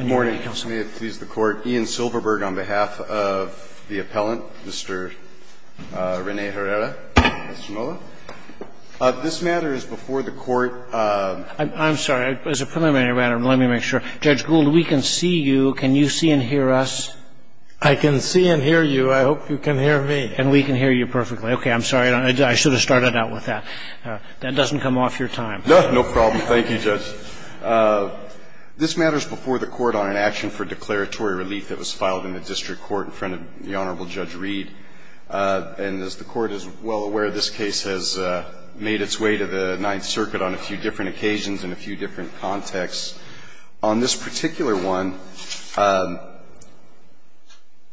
May it please the Court, Ian Silverberg on behalf of the appellant, Mr. Rene Herrera-Castanola. This matter is before the Court. I'm sorry, as a preliminary matter, let me make sure. Judge Gould, we can see you. Can you see and hear us? I can see and hear you. I hope you can hear me. And we can hear you perfectly. Okay, I'm sorry. I should have started out with that. That doesn't come off your time. No, no problem. Thank you, Judge. This matter is before the Court on an action for declaratory relief that was filed in the district court in front of the Honorable Judge Reed. And as the Court is well aware, this case has made its way to the Ninth Circuit on a few different occasions in a few different contexts. On this particular one,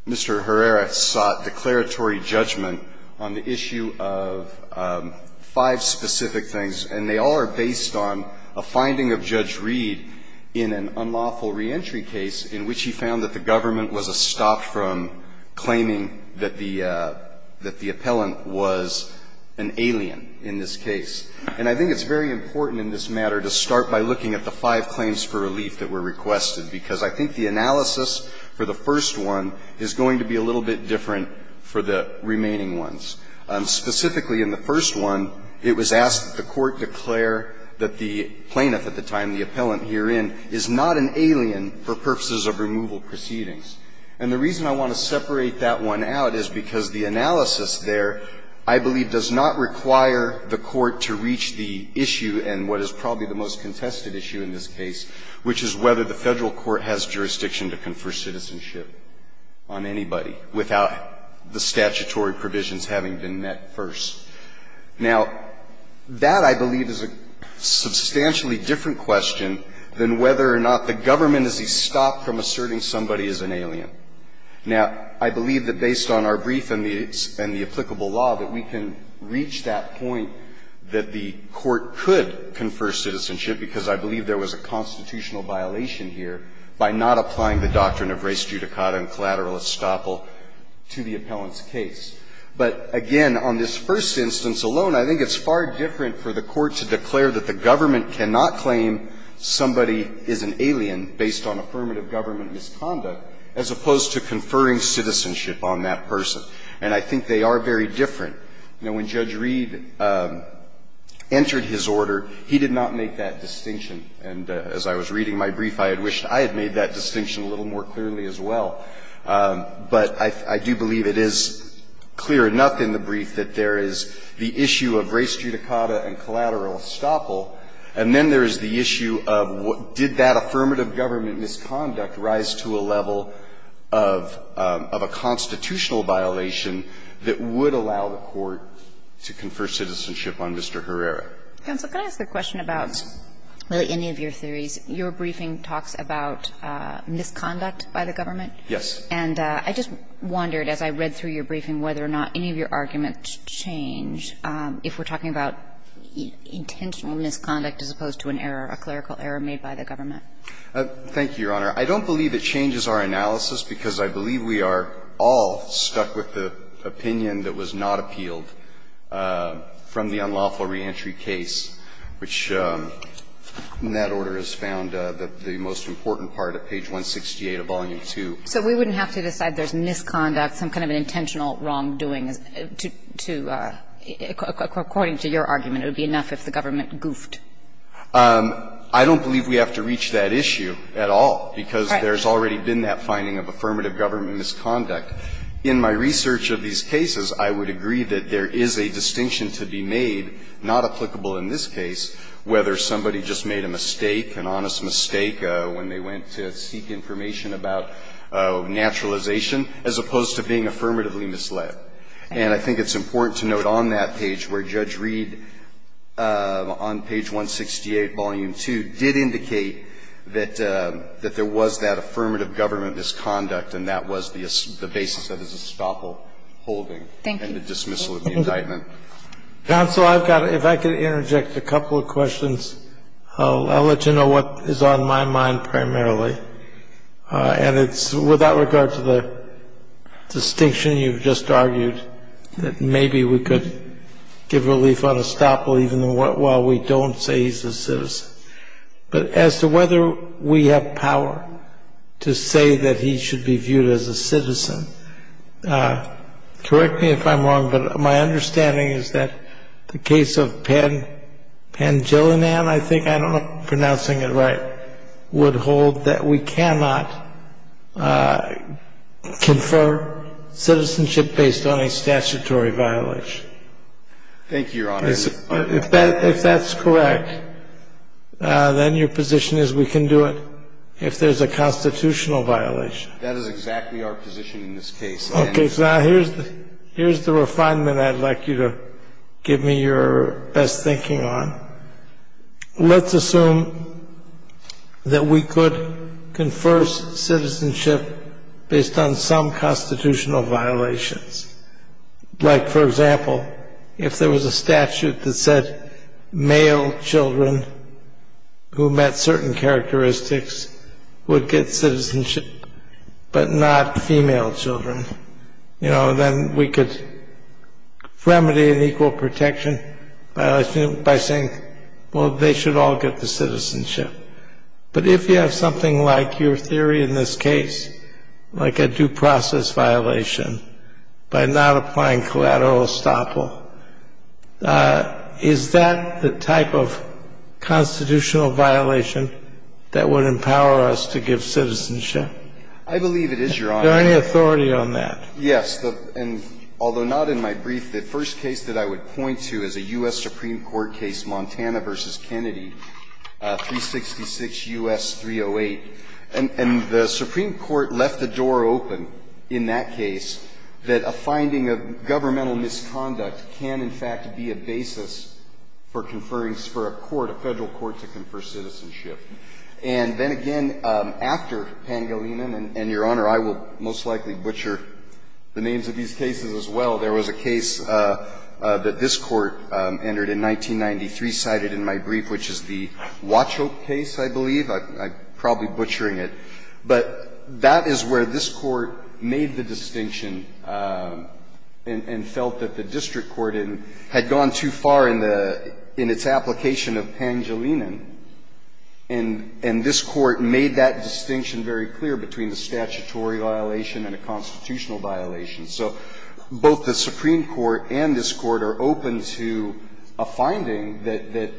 Mr. Herrera sought declaratory judgment on the issue of five specific things, and they all are based on a finding of Judge Reed in an unlawful reentry case in which he found that the government was a stop from claiming that the appellant was an alien in this case. And I think it's very important in this matter to start by looking at the five claims for relief that were requested, because I think the analysis for the first one is going to be a little bit different for the remaining ones. Specifically in the first one, it was asked that the Court declare that the plaintiff at the time, the appellant herein, is not an alien for purposes of removal proceedings. And the reason I want to separate that one out is because the analysis there, I believe, does not require the Court to reach the issue and what is probably the most contested issue in this case, which is whether the Federal court has jurisdiction to confer citizenship over an appellant having been met first. Now, that, I believe, is a substantially different question than whether or not the government is a stop from asserting somebody is an alien. Now, I believe that based on our brief and the applicable law that we can reach that point that the Court could confer citizenship, because I believe there was a constitutional violation here by not applying the doctrine of res judicata and collateral estoppel to the appellant's case. But again, on this first instance alone, I think it's far different for the Court to declare that the government cannot claim somebody is an alien based on affirmative government misconduct as opposed to conferring citizenship on that person. And I think they are very different. You know, when Judge Reed entered his order, he did not make that distinction. And as I was reading my brief, I had wished I had made that distinction a little more clearly as well. But I do believe it is clear enough in the brief that there is the issue of res judicata and collateral estoppel, and then there is the issue of did that affirmative government misconduct rise to a level of a constitutional violation that would allow the Court to confer citizenship on Mr. Herrera? Counsel, can I ask a question about, really, any of your theories? Your briefing talks about misconduct by the government. Yes. And I just wondered, as I read through your briefing, whether or not any of your arguments change if we're talking about intentional misconduct as opposed to an error, a clerical error made by the government. Thank you, Your Honor. I don't believe it changes our analysis, because I believe we are all stuck with the opinion that was not appealed from the unlawful reentry case, which, in that order, is found the most important part of page 168 of Volume 2. So we wouldn't have to decide there's misconduct, some kind of an intentional wrongdoing, to – according to your argument, it would be enough if the government goofed. I don't believe we have to reach that issue at all, because there's already been that finding of affirmative government misconduct. In my research of these cases, I would agree that there is a distinction to be made, not applicable in this case, whether somebody just made a mistake, an honest mistake, when they went to seek information about naturalization, as opposed to being affirmatively misled. And I think it's important to note on that page where Judge Reed, on page 168, Volume 2, did indicate that there was that affirmative government misconduct, and that was the basis of his estoppel holding and the dismissal of the indictment. Counsel, I've got – if I could interject a couple of questions. I'll let you know what is on my mind primarily, and it's without regard to the distinction you've just argued, that maybe we could give relief on estoppel even while we don't say he's a citizen. But as to whether we have power to say that he should be viewed as a citizen, correct me if I'm wrong, but my understanding is that the case of Pangilinan, I think, I don't know if I'm pronouncing it right, would hold that we cannot confer citizenship based on a statutory violation. Thank you, Your Honor. If that's correct, then your position is we can do it if there's a constitutional violation. That is exactly our position in this case. Okay, so now here's the refinement I'd like you to give me your best thinking on. Let's assume that we could confer citizenship based on some constitutional violations. Like, for example, if there was a statute that said male children who met certain characteristics would get citizenship but not female children, you know, then we could remedy the equal protection violation by saying, well, they should all get the citizenship. But if you have something like your theory in this case, like a due process violation by not applying collateral estoppel, is that the type of constitutional violation that would empower us to give citizenship? I believe it is, Your Honor. Is there any authority on that? Yes, and although not in my brief, the first case that I would point to is a U.S. case, 1866 U.S. 308, and the Supreme Court left the door open in that case that a finding of governmental misconduct can, in fact, be a basis for conferring for a court, a Federal court to confer citizenship. And then again, after Pangolinan, and, Your Honor, I will most likely butcher the names of these cases as well, there was a case that this Court entered in 1993 cited in my brief, which is the Watchoke case, I believe. I'm probably butchering it. But that is where this Court made the distinction and felt that the district court had gone too far in the – in its application of Pangolinan. And this Court made that distinction very clear between a statutory violation and a constitutional violation. So both the Supreme Court and this Court are open to a finding that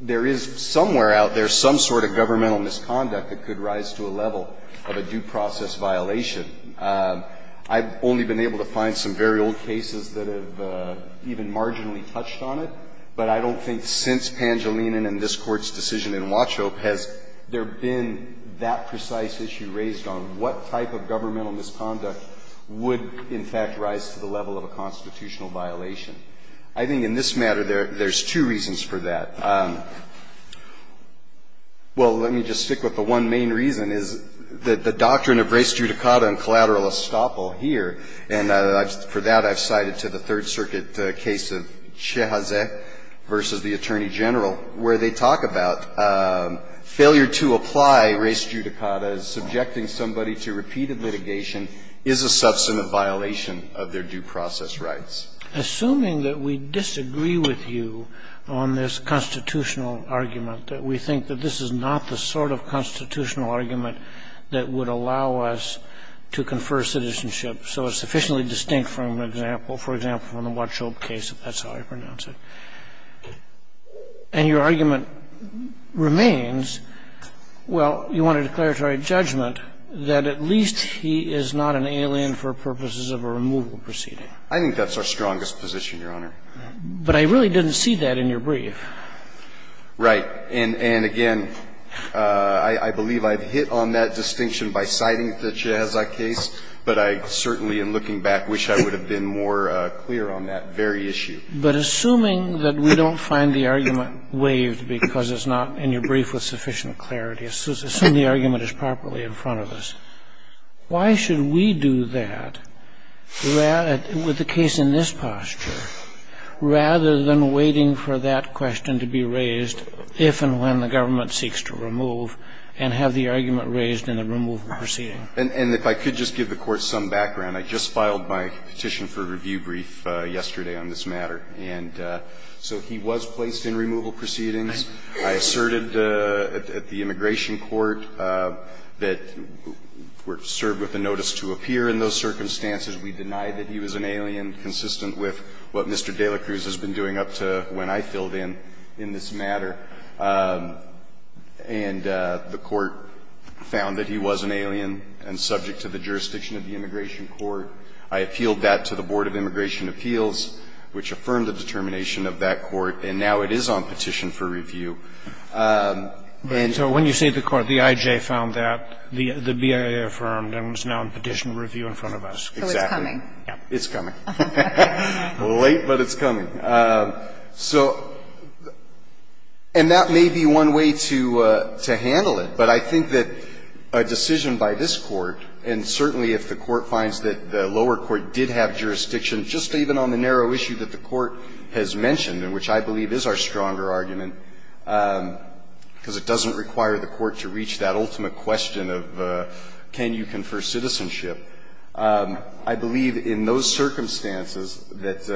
there is somewhere out there some sort of governmental misconduct that could rise to a level of a due process violation. I've only been able to find some very old cases that have even marginally touched on it, but I don't think since Pangolinan and this Court's decision in Watchoke has there been that precise issue raised on what type of governmental misconduct would in fact rise to the level of a constitutional violation. I think in this matter there's two reasons for that. Well, let me just stick with the one main reason, is that the doctrine of res judicata and collateral estoppel here, and for that I've cited to the Third Circuit case of Chehazeh v. the Attorney General, where they talk about failure to apply res judicata as subjecting somebody to repeated litigation is a substantive violation of their due process rights. Assuming that we disagree with you on this constitutional argument, that we think that this is not the sort of constitutional argument that would allow us to confer citizenship so it's sufficiently distinct from an example, for example, from the Watchoke case, if that's how I pronounce it, and your argument remains, well, you want a declaratory judgment that at least he is not an alien for purposes of a removal proceeding. I think that's our strongest position, Your Honor. But I really didn't see that in your brief. Right. And again, I believe I've hit on that distinction by citing the Chehazeh case, but I certainly in looking back wish I would have been more clear on that very issue. But assuming that we don't find the argument waived because it's not in your brief with sufficient clarity, assume the argument is properly in front of us, why should we do that with the case in this posture rather than waiting for that question to be raised if and when the government seeks to remove and have the argument raised in the removal proceeding? And if I could just give the Court some background. I just filed my petition for review brief yesterday on this matter. And so he was placed in removal proceedings. I asserted at the immigration court that we're served with a notice to appear in those circumstances. We denied that he was an alien consistent with what Mr. de la Cruz has been doing up to when I filled in in this matter. And the Court found that he was an alien and subject to the jurisdiction of the immigration court. I appealed that to the Board of Immigration Appeals, which affirmed the determination of that court. And now it is on petition for review. And so when you say the court, the IJ found that, the BIA affirmed, and it's now on petition review in front of us. Exactly. So it's coming. It's coming. Late, but it's coming. So and that may be one way to handle it, but I think that a decision by this Court, and certainly if the Court finds that the lower court did have jurisdiction just even on the narrow issue that the Court has mentioned, and which I believe is our stronger argument, because it doesn't require the court to reach that ultimate question of can you confer citizenship, I believe in those circumstances that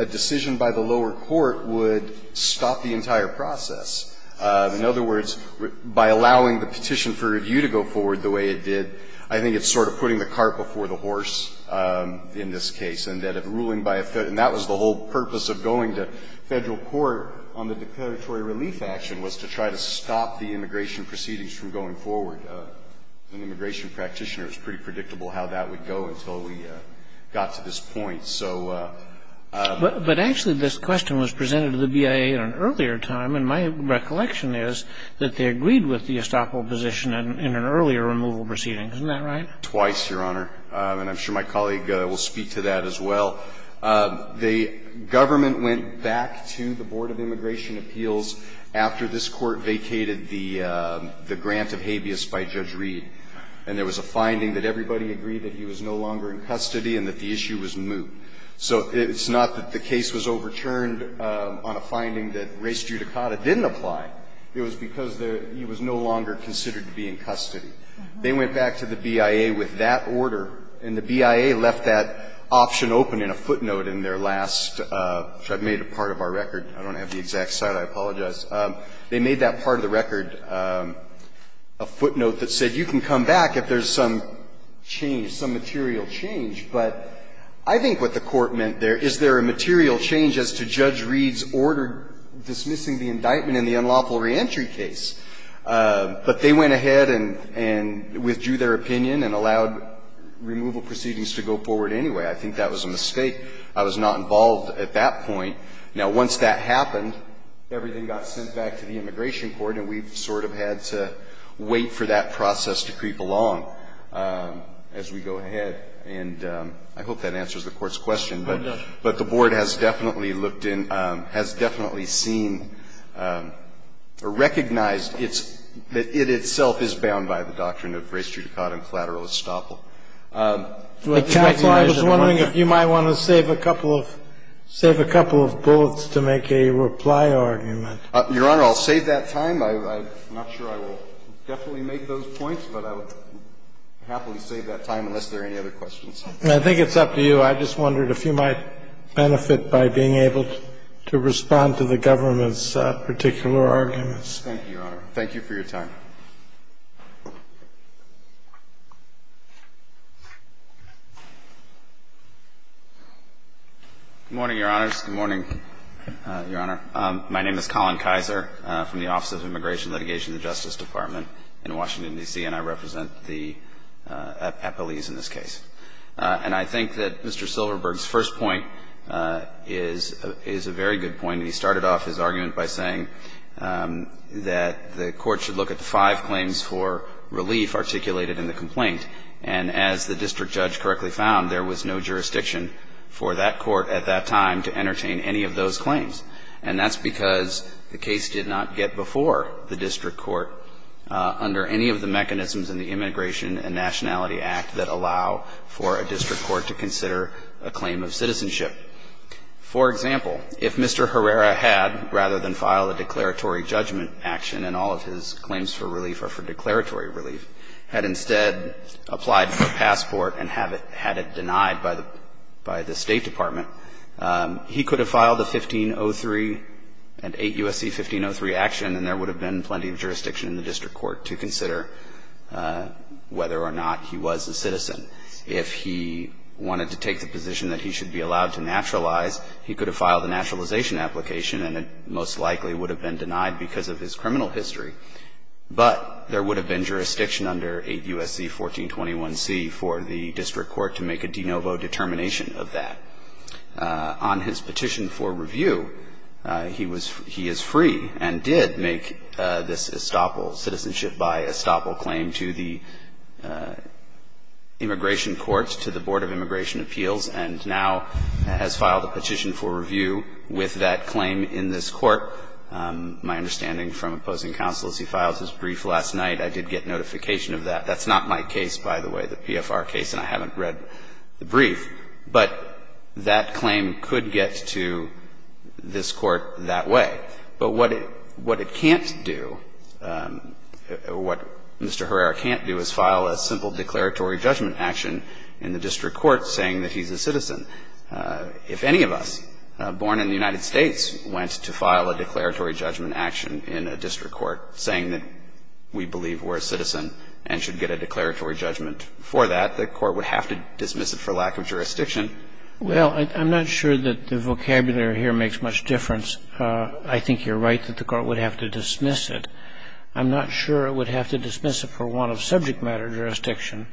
a decision by the lower court would stop the entire process. In other words, by allowing the petition for review to go forward the way it did, I think it's sort of putting the cart before the horse in this case, and that a ruling by a Federal ---- and that was the whole purpose of going to Federal court on the declaratory relief action, was to try to stop the immigration proceedings from going forward. As an immigration practitioner, it's pretty predictable how that would go until we got to this point. So ---- But actually, this question was presented to the BIA at an earlier time, and my recollection is that they agreed with the estoppel position in an earlier removal proceeding. Isn't that right? Twice, Your Honor, and I'm sure my colleague will speak to that as well. The government went back to the Board of Immigration Appeals after this Court vacated the grant of habeas by Judge Reed, and there was a finding that everybody agreed that he was no longer in custody and that the issue was moot. So it's not that the case was overturned on a finding that res judicata didn't apply. It was because he was no longer considered to be in custody. They went back to the BIA with that order, and the BIA left that option open in a footnote in their last ---- which I've made a part of our record. I don't have the exact site. I apologize. They made that part of the record a footnote that said you can come back if there's some change, some material change. But I think what the Court meant there, is there a material change as to Judge Reed's order dismissing the indictment in the unlawful reentry case? But they went ahead and withdrew their opinion and allowed removal proceedings to go forward anyway. I think that was a mistake. I was not involved at that point. Now, once that happened, everything got sent back to the immigration court, and we've sort of had to wait for that process to creep along as we go ahead. And I hope that answers the Court's question. But the Board has definitely looked in ---- has definitely seen or recognized that it itself is bound by the doctrine of res judicata and collateral estoppel. I was wondering if you might want to save a couple of bullets to make a reply argument. Your Honor, I'll save that time. I'm not sure I will definitely make those points, but I would happily save that time unless there are any other questions. And I think it's up to you. I just wondered if you might benefit by being able to respond to the government's particular arguments. Thank you, Your Honor. Thank you for your time. Good morning, Your Honors. Good morning, Your Honor. My name is Colin Kizer from the Office of Immigration Litigation and Justice Department in Washington, D.C., and I represent the appellees in this case. And I think that Mr. Silverberg's first point is a very good point. He started off his argument by saying that the Court should look at the five claims for relief articulated in the complaint. And as the district judge correctly found, there was no jurisdiction for that Court at that time to entertain any of those claims. And that's because the case did not get before the district court under any of the mechanisms in the Immigration and Nationality Act that allow for a district court to consider a claim of citizenship. For example, if Mr. Herrera had, rather than file a declaratory judgment action and all of his claims for relief are for declaratory relief, had instead applied for a passport and had it denied by the State Department, he could have filed a 1503 and 8 U.S.C. 1503 action and there would have been plenty of jurisdiction in the district court to consider whether or not he was a citizen. If he wanted to take the position that he should be allowed to naturalize, he could have filed a naturalization application and it most likely would have been denied because of his criminal history. But there would have been jurisdiction under 8 U.S.C. 1421C for the district court to make a de novo determination of that. On his petition for review, he was he is free and did make this estoppel, citizenship by estoppel claim to the Immigration Courts, to the Board of Immigration Appeals and now has filed a petition for review with that claim in this court. My understanding from opposing counsel is he filed his brief last night. I did get notification of that. That's not my case, by the way, the PFR case, and I haven't read the brief. But that claim could get to this court that way. But what it can't do, what Mr. Herrera can't do is file a simple declaratory judgment action in the district court saying that he's a citizen. If any of us born in the United States went to file a declaratory judgment action in a district court saying that we believe we're a citizen and should get a declaratory judgment for that, the court would have to dismiss it for lack of jurisdiction. Well, I'm not sure that the vocabulary here makes much difference. I think you're right that the court would have to dismiss it. I'm not sure it would have to dismiss it for want of subject matter jurisdiction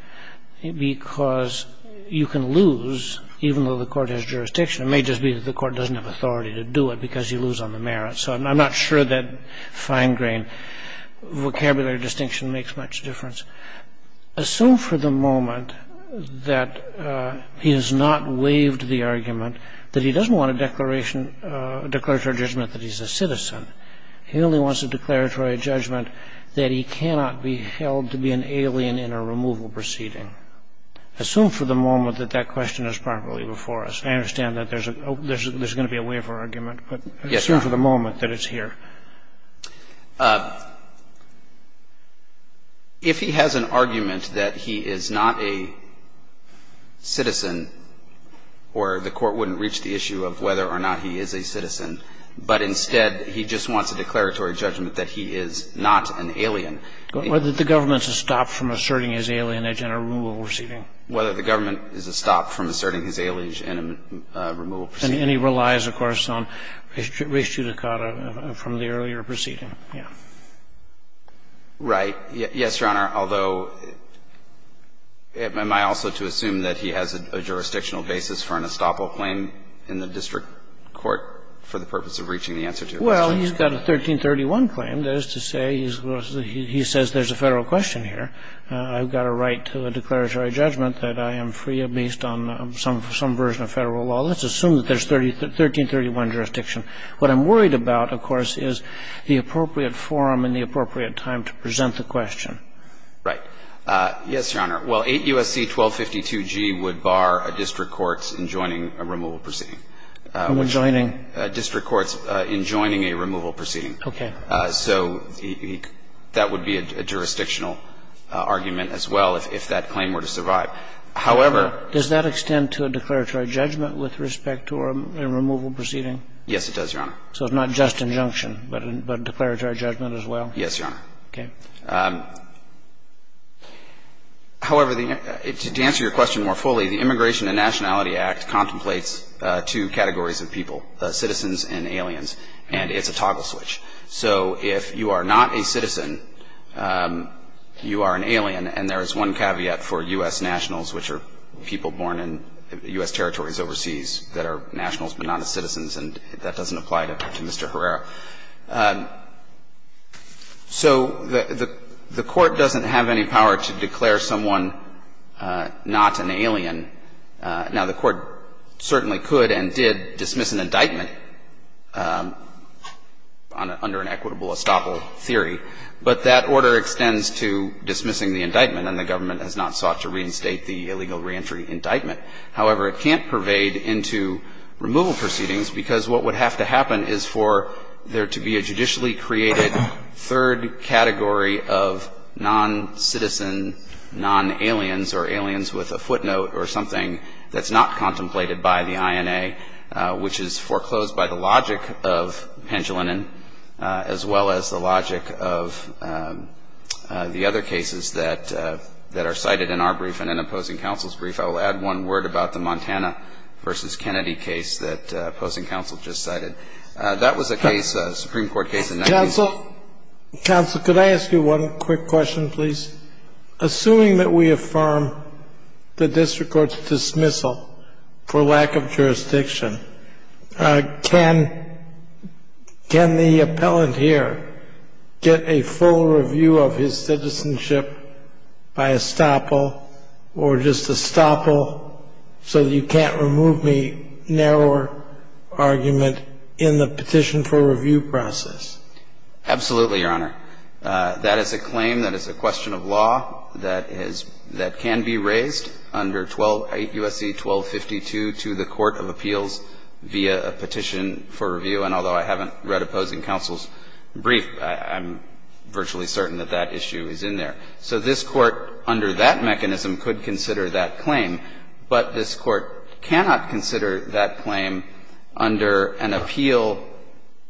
because you can lose, even though the court has jurisdiction, it may just be that the court doesn't have authority to do it because you lose on the merit. So I'm not sure that fine grain vocabulary distinction makes much difference. Assume for the moment that he has not waived the argument, that he doesn't want a declaration, a declaratory judgment that he's a citizen. He only wants a declaratory judgment that he cannot be held to be an alien in a removal proceeding. Assume for the moment that that question is properly before us. I understand that there's a going to be a waiver argument, but assume for the moment that it's here. If he has an argument that he is not a citizen or the court wouldn't reach the issue of whether or not he is a citizen, but instead he just wants a declaratory judgment that he is not an alien. Whether the government is to stop from asserting his alienage in a removal proceeding. Whether the government is to stop from asserting his alienage in a removal proceeding. And he relies, of course, on res judicata from the earlier proceeding. Yeah. Right. Yes, Your Honor, although, am I also to assume that he has a jurisdictional basis for an estoppel claim in the district court for the purpose of reaching the answer to a question? Well, he's got a 1331 claim. That is to say, he says there's a Federal question here. I've got a right to a declaratory judgment that I am free at least on some version of Federal law. Let's assume that there's 1331 jurisdiction. What I'm worried about, of course, is the appropriate forum and the appropriate time to present the question. Right. Yes, Your Honor. Well, 8 U.S.C. 1252G would bar a district court in joining a removal proceeding. In joining? District courts in joining a removal proceeding. Okay. So that would be a jurisdictional argument as well if that claim were to survive. However, does that extend to a declaratory judgment? With respect to a removal proceeding? Yes, it does, Your Honor. So it's not just injunction, but a declaratory judgment as well? Yes, Your Honor. Okay. However, to answer your question more fully, the Immigration and Nationality Act contemplates two categories of people, citizens and aliens, and it's a toggle switch. So if you are not a citizen, you are an alien, and there is one caveat for U.S. territories overseas that are nationals but not as citizens, and that doesn't apply to Mr. Herrera. So the Court doesn't have any power to declare someone not an alien. Now, the Court certainly could and did dismiss an indictment under an equitable estoppel theory, but that order extends to dismissing the indictment, and the government has not sought to reinstate the illegal reentry indictment. However, it can't pervade into removal proceedings because what would have to happen is for there to be a judicially created third category of non-citizen, non-aliens or aliens with a footnote or something that's not contemplated by the INA, which is foreclosed by the logic of Pendleton, as well as the logic of the other cases that are cited in our brief and in opposing counsel's brief. I will add one word about the Montana v. Kennedy case that opposing counsel just cited. That was a case, a Supreme Court case in the 90s. Counsel, counsel, could I ask you one quick question, please? Assuming that we affirm the district court's dismissal for lack of jurisdiction, can the appellant here get a full review of his citizenship by estoppel or just estoppel so that you can't remove the narrower argument in the petition for review process? Absolutely, Your Honor. That is a claim, that is a question of law that is – that can be raised under 12 – USC 1252 to the court of appeals via a petition for review. And although I haven't read opposing counsel's brief, I'm virtually certain that that issue is in there. So this Court, under that mechanism, could consider that claim. But this Court cannot consider that claim under an appeal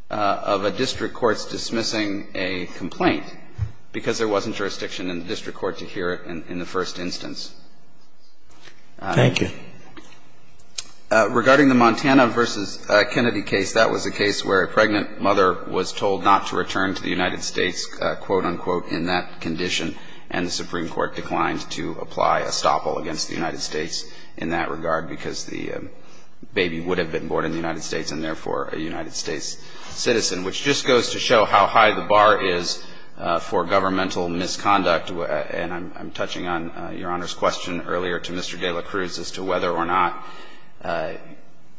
of a district court's dismissing a complaint because there wasn't jurisdiction in the district court to hear it in the first instance. Thank you. Regarding the Montana v. Kennedy case, that was a case where a pregnant mother was told not to return to the United States, quote, unquote, in that condition. And the Supreme Court declined to apply estoppel against the United States in that regard because the baby would have been born in the United States and, therefore, a United States citizen, which just goes to show how high the bar is for governmental misconduct. And I'm touching on Your Honor's question earlier to Mr. de la Cruz as to whether or not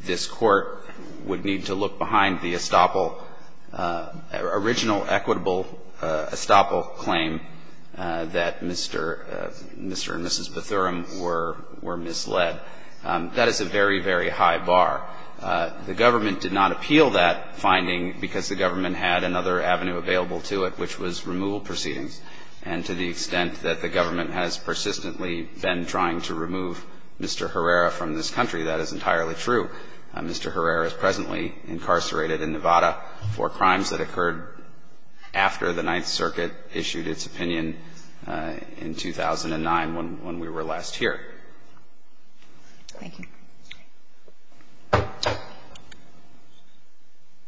this Court would need to look behind the estoppel, original equitable estoppel claim that Mr. and Mrs. Bethuram were misled. That is a very, very high bar. The government did not appeal that finding because the government had another avenue available to it, which was removal proceedings. And to the extent that the government has persistently been trying to remove Mr. Herrera from this country, that is entirely true. Mr. Herrera is presently incarcerated in Nevada for crimes that occurred after the Ninth Circuit issued its opinion in 2009, when we were last here. Thank you.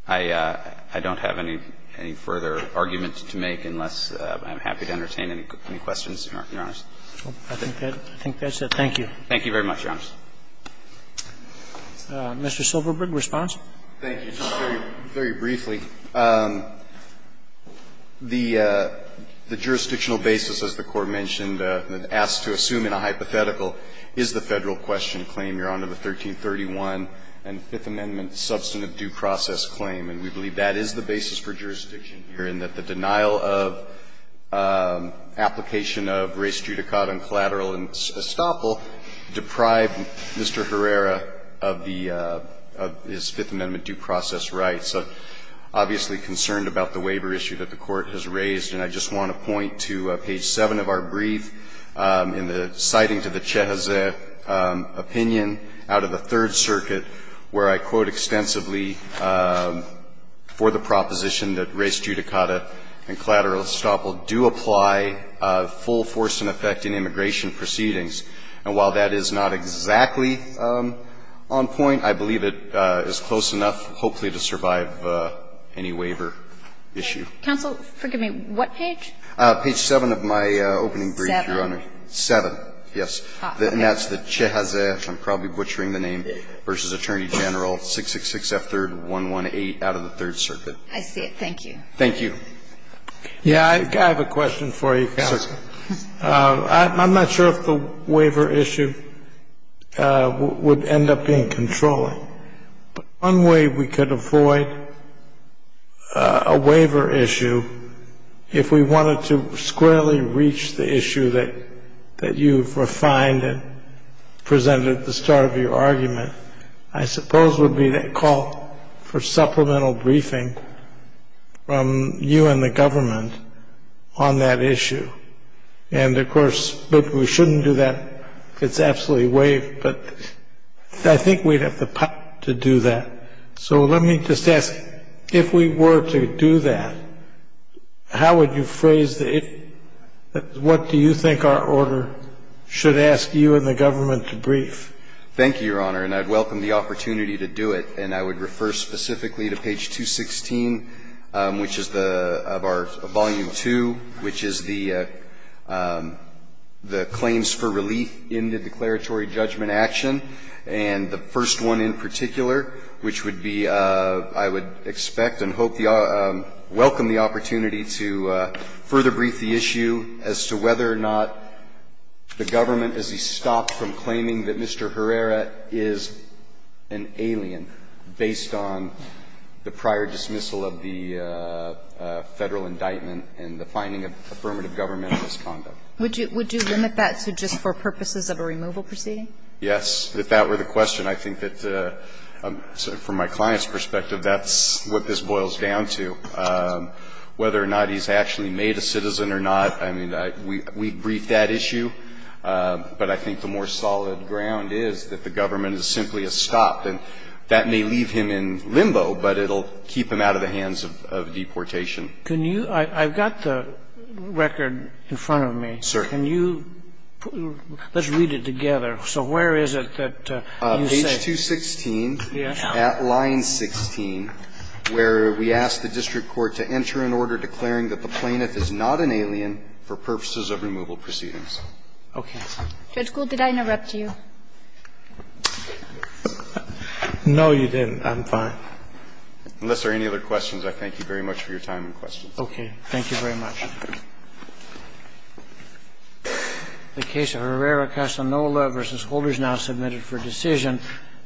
I don't have any further argument to make unless I'm happy to entertain any questions, Your Honors. I think that's it. Thank you. Thank you very much, Your Honors. Mr. Silverberg, response? Thank you. Just very briefly, the jurisdictional basis, as the Court mentioned, asked to assume in a hypothetical is the Federal question claim, Your Honor, the 1331 and Fifth Amendment substantive due process claim. And we believe that is the basis for jurisdiction here, in that the denial of application of res judicata and collateral estoppel deprived Mr. Herrera of the his Fifth Amendment due process rights. I'm obviously concerned about the waiver issue that the Court has raised, and I just want to point to page 7 of our brief in the citing to the Chehezeh opinion out of the Third Circuit, where I quote extensively for the proposition that res judicata and collateral estoppel do apply full force and effect in immigration proceedings. And while that is not exactly on point, I believe it is close enough, hopefully, to survive any waiver issue. Counsel, forgive me, what page? Page 7 of my opening brief, Your Honor. 7? 7, yes. And that's the Chehezeh, I'm probably butchering the name, v. Attorney General 666F3118 out of the Third Circuit. I see it. Thank you. Thank you. Yeah, I have a question for you, Counsel. Certainly. I'm not sure if the waiver issue would end up being controlling, but one way we could avoid a waiver issue, if we wanted to squarely reach the issue that you've refined and presented at the start of your argument, I suppose would be that call for supplemental briefing from you and the government on that issue. And of course, we shouldn't do that. It's absolutely waived, but I think we'd have the power to do that. So let me just ask, if we were to do that, how would you phrase it? What do you think our order should ask you and the government to brief? Thank you, Your Honor, and I'd welcome the opportunity to do it. And I would refer specifically to page 216, which is the, of our, of volume 2, which is the, the claims for relief in the declaratory judgment action. And the first one in particular, which would be, I would expect and hope the, welcome the opportunity to further brief the issue as to whether or not the government, as he stopped from claiming that Mr. Herrera is an alien based on the prior dismissal of the Federal indictment and the finding of affirmative government misconduct. Would you limit that to just for purposes of a removal proceeding? Yes, if that were the question. I think that, from my client's perspective, that's what this boils down to. Whether or not he's actually made a citizen or not, I mean, we briefed that issue. But I think the more solid ground is that the government is simply a stop. And that may leave him in limbo, but it'll keep him out of the hands of, of deportation. Can you, I've got the record in front of me. Sir. Can you, let's read it together. So where is it that you say? Page 216, at line 16, where we ask the district court to enter an order declaring that the plaintiff is not an alien for purposes of removal proceedings. Okay. Judge Gould, did I interrupt you? No, you didn't. I'm fine. Unless there are any other questions, I thank you very much for your time and questions. Okay. Thank you very much. The case of Herrera-Castaneda v. Holder is now submitted for decision.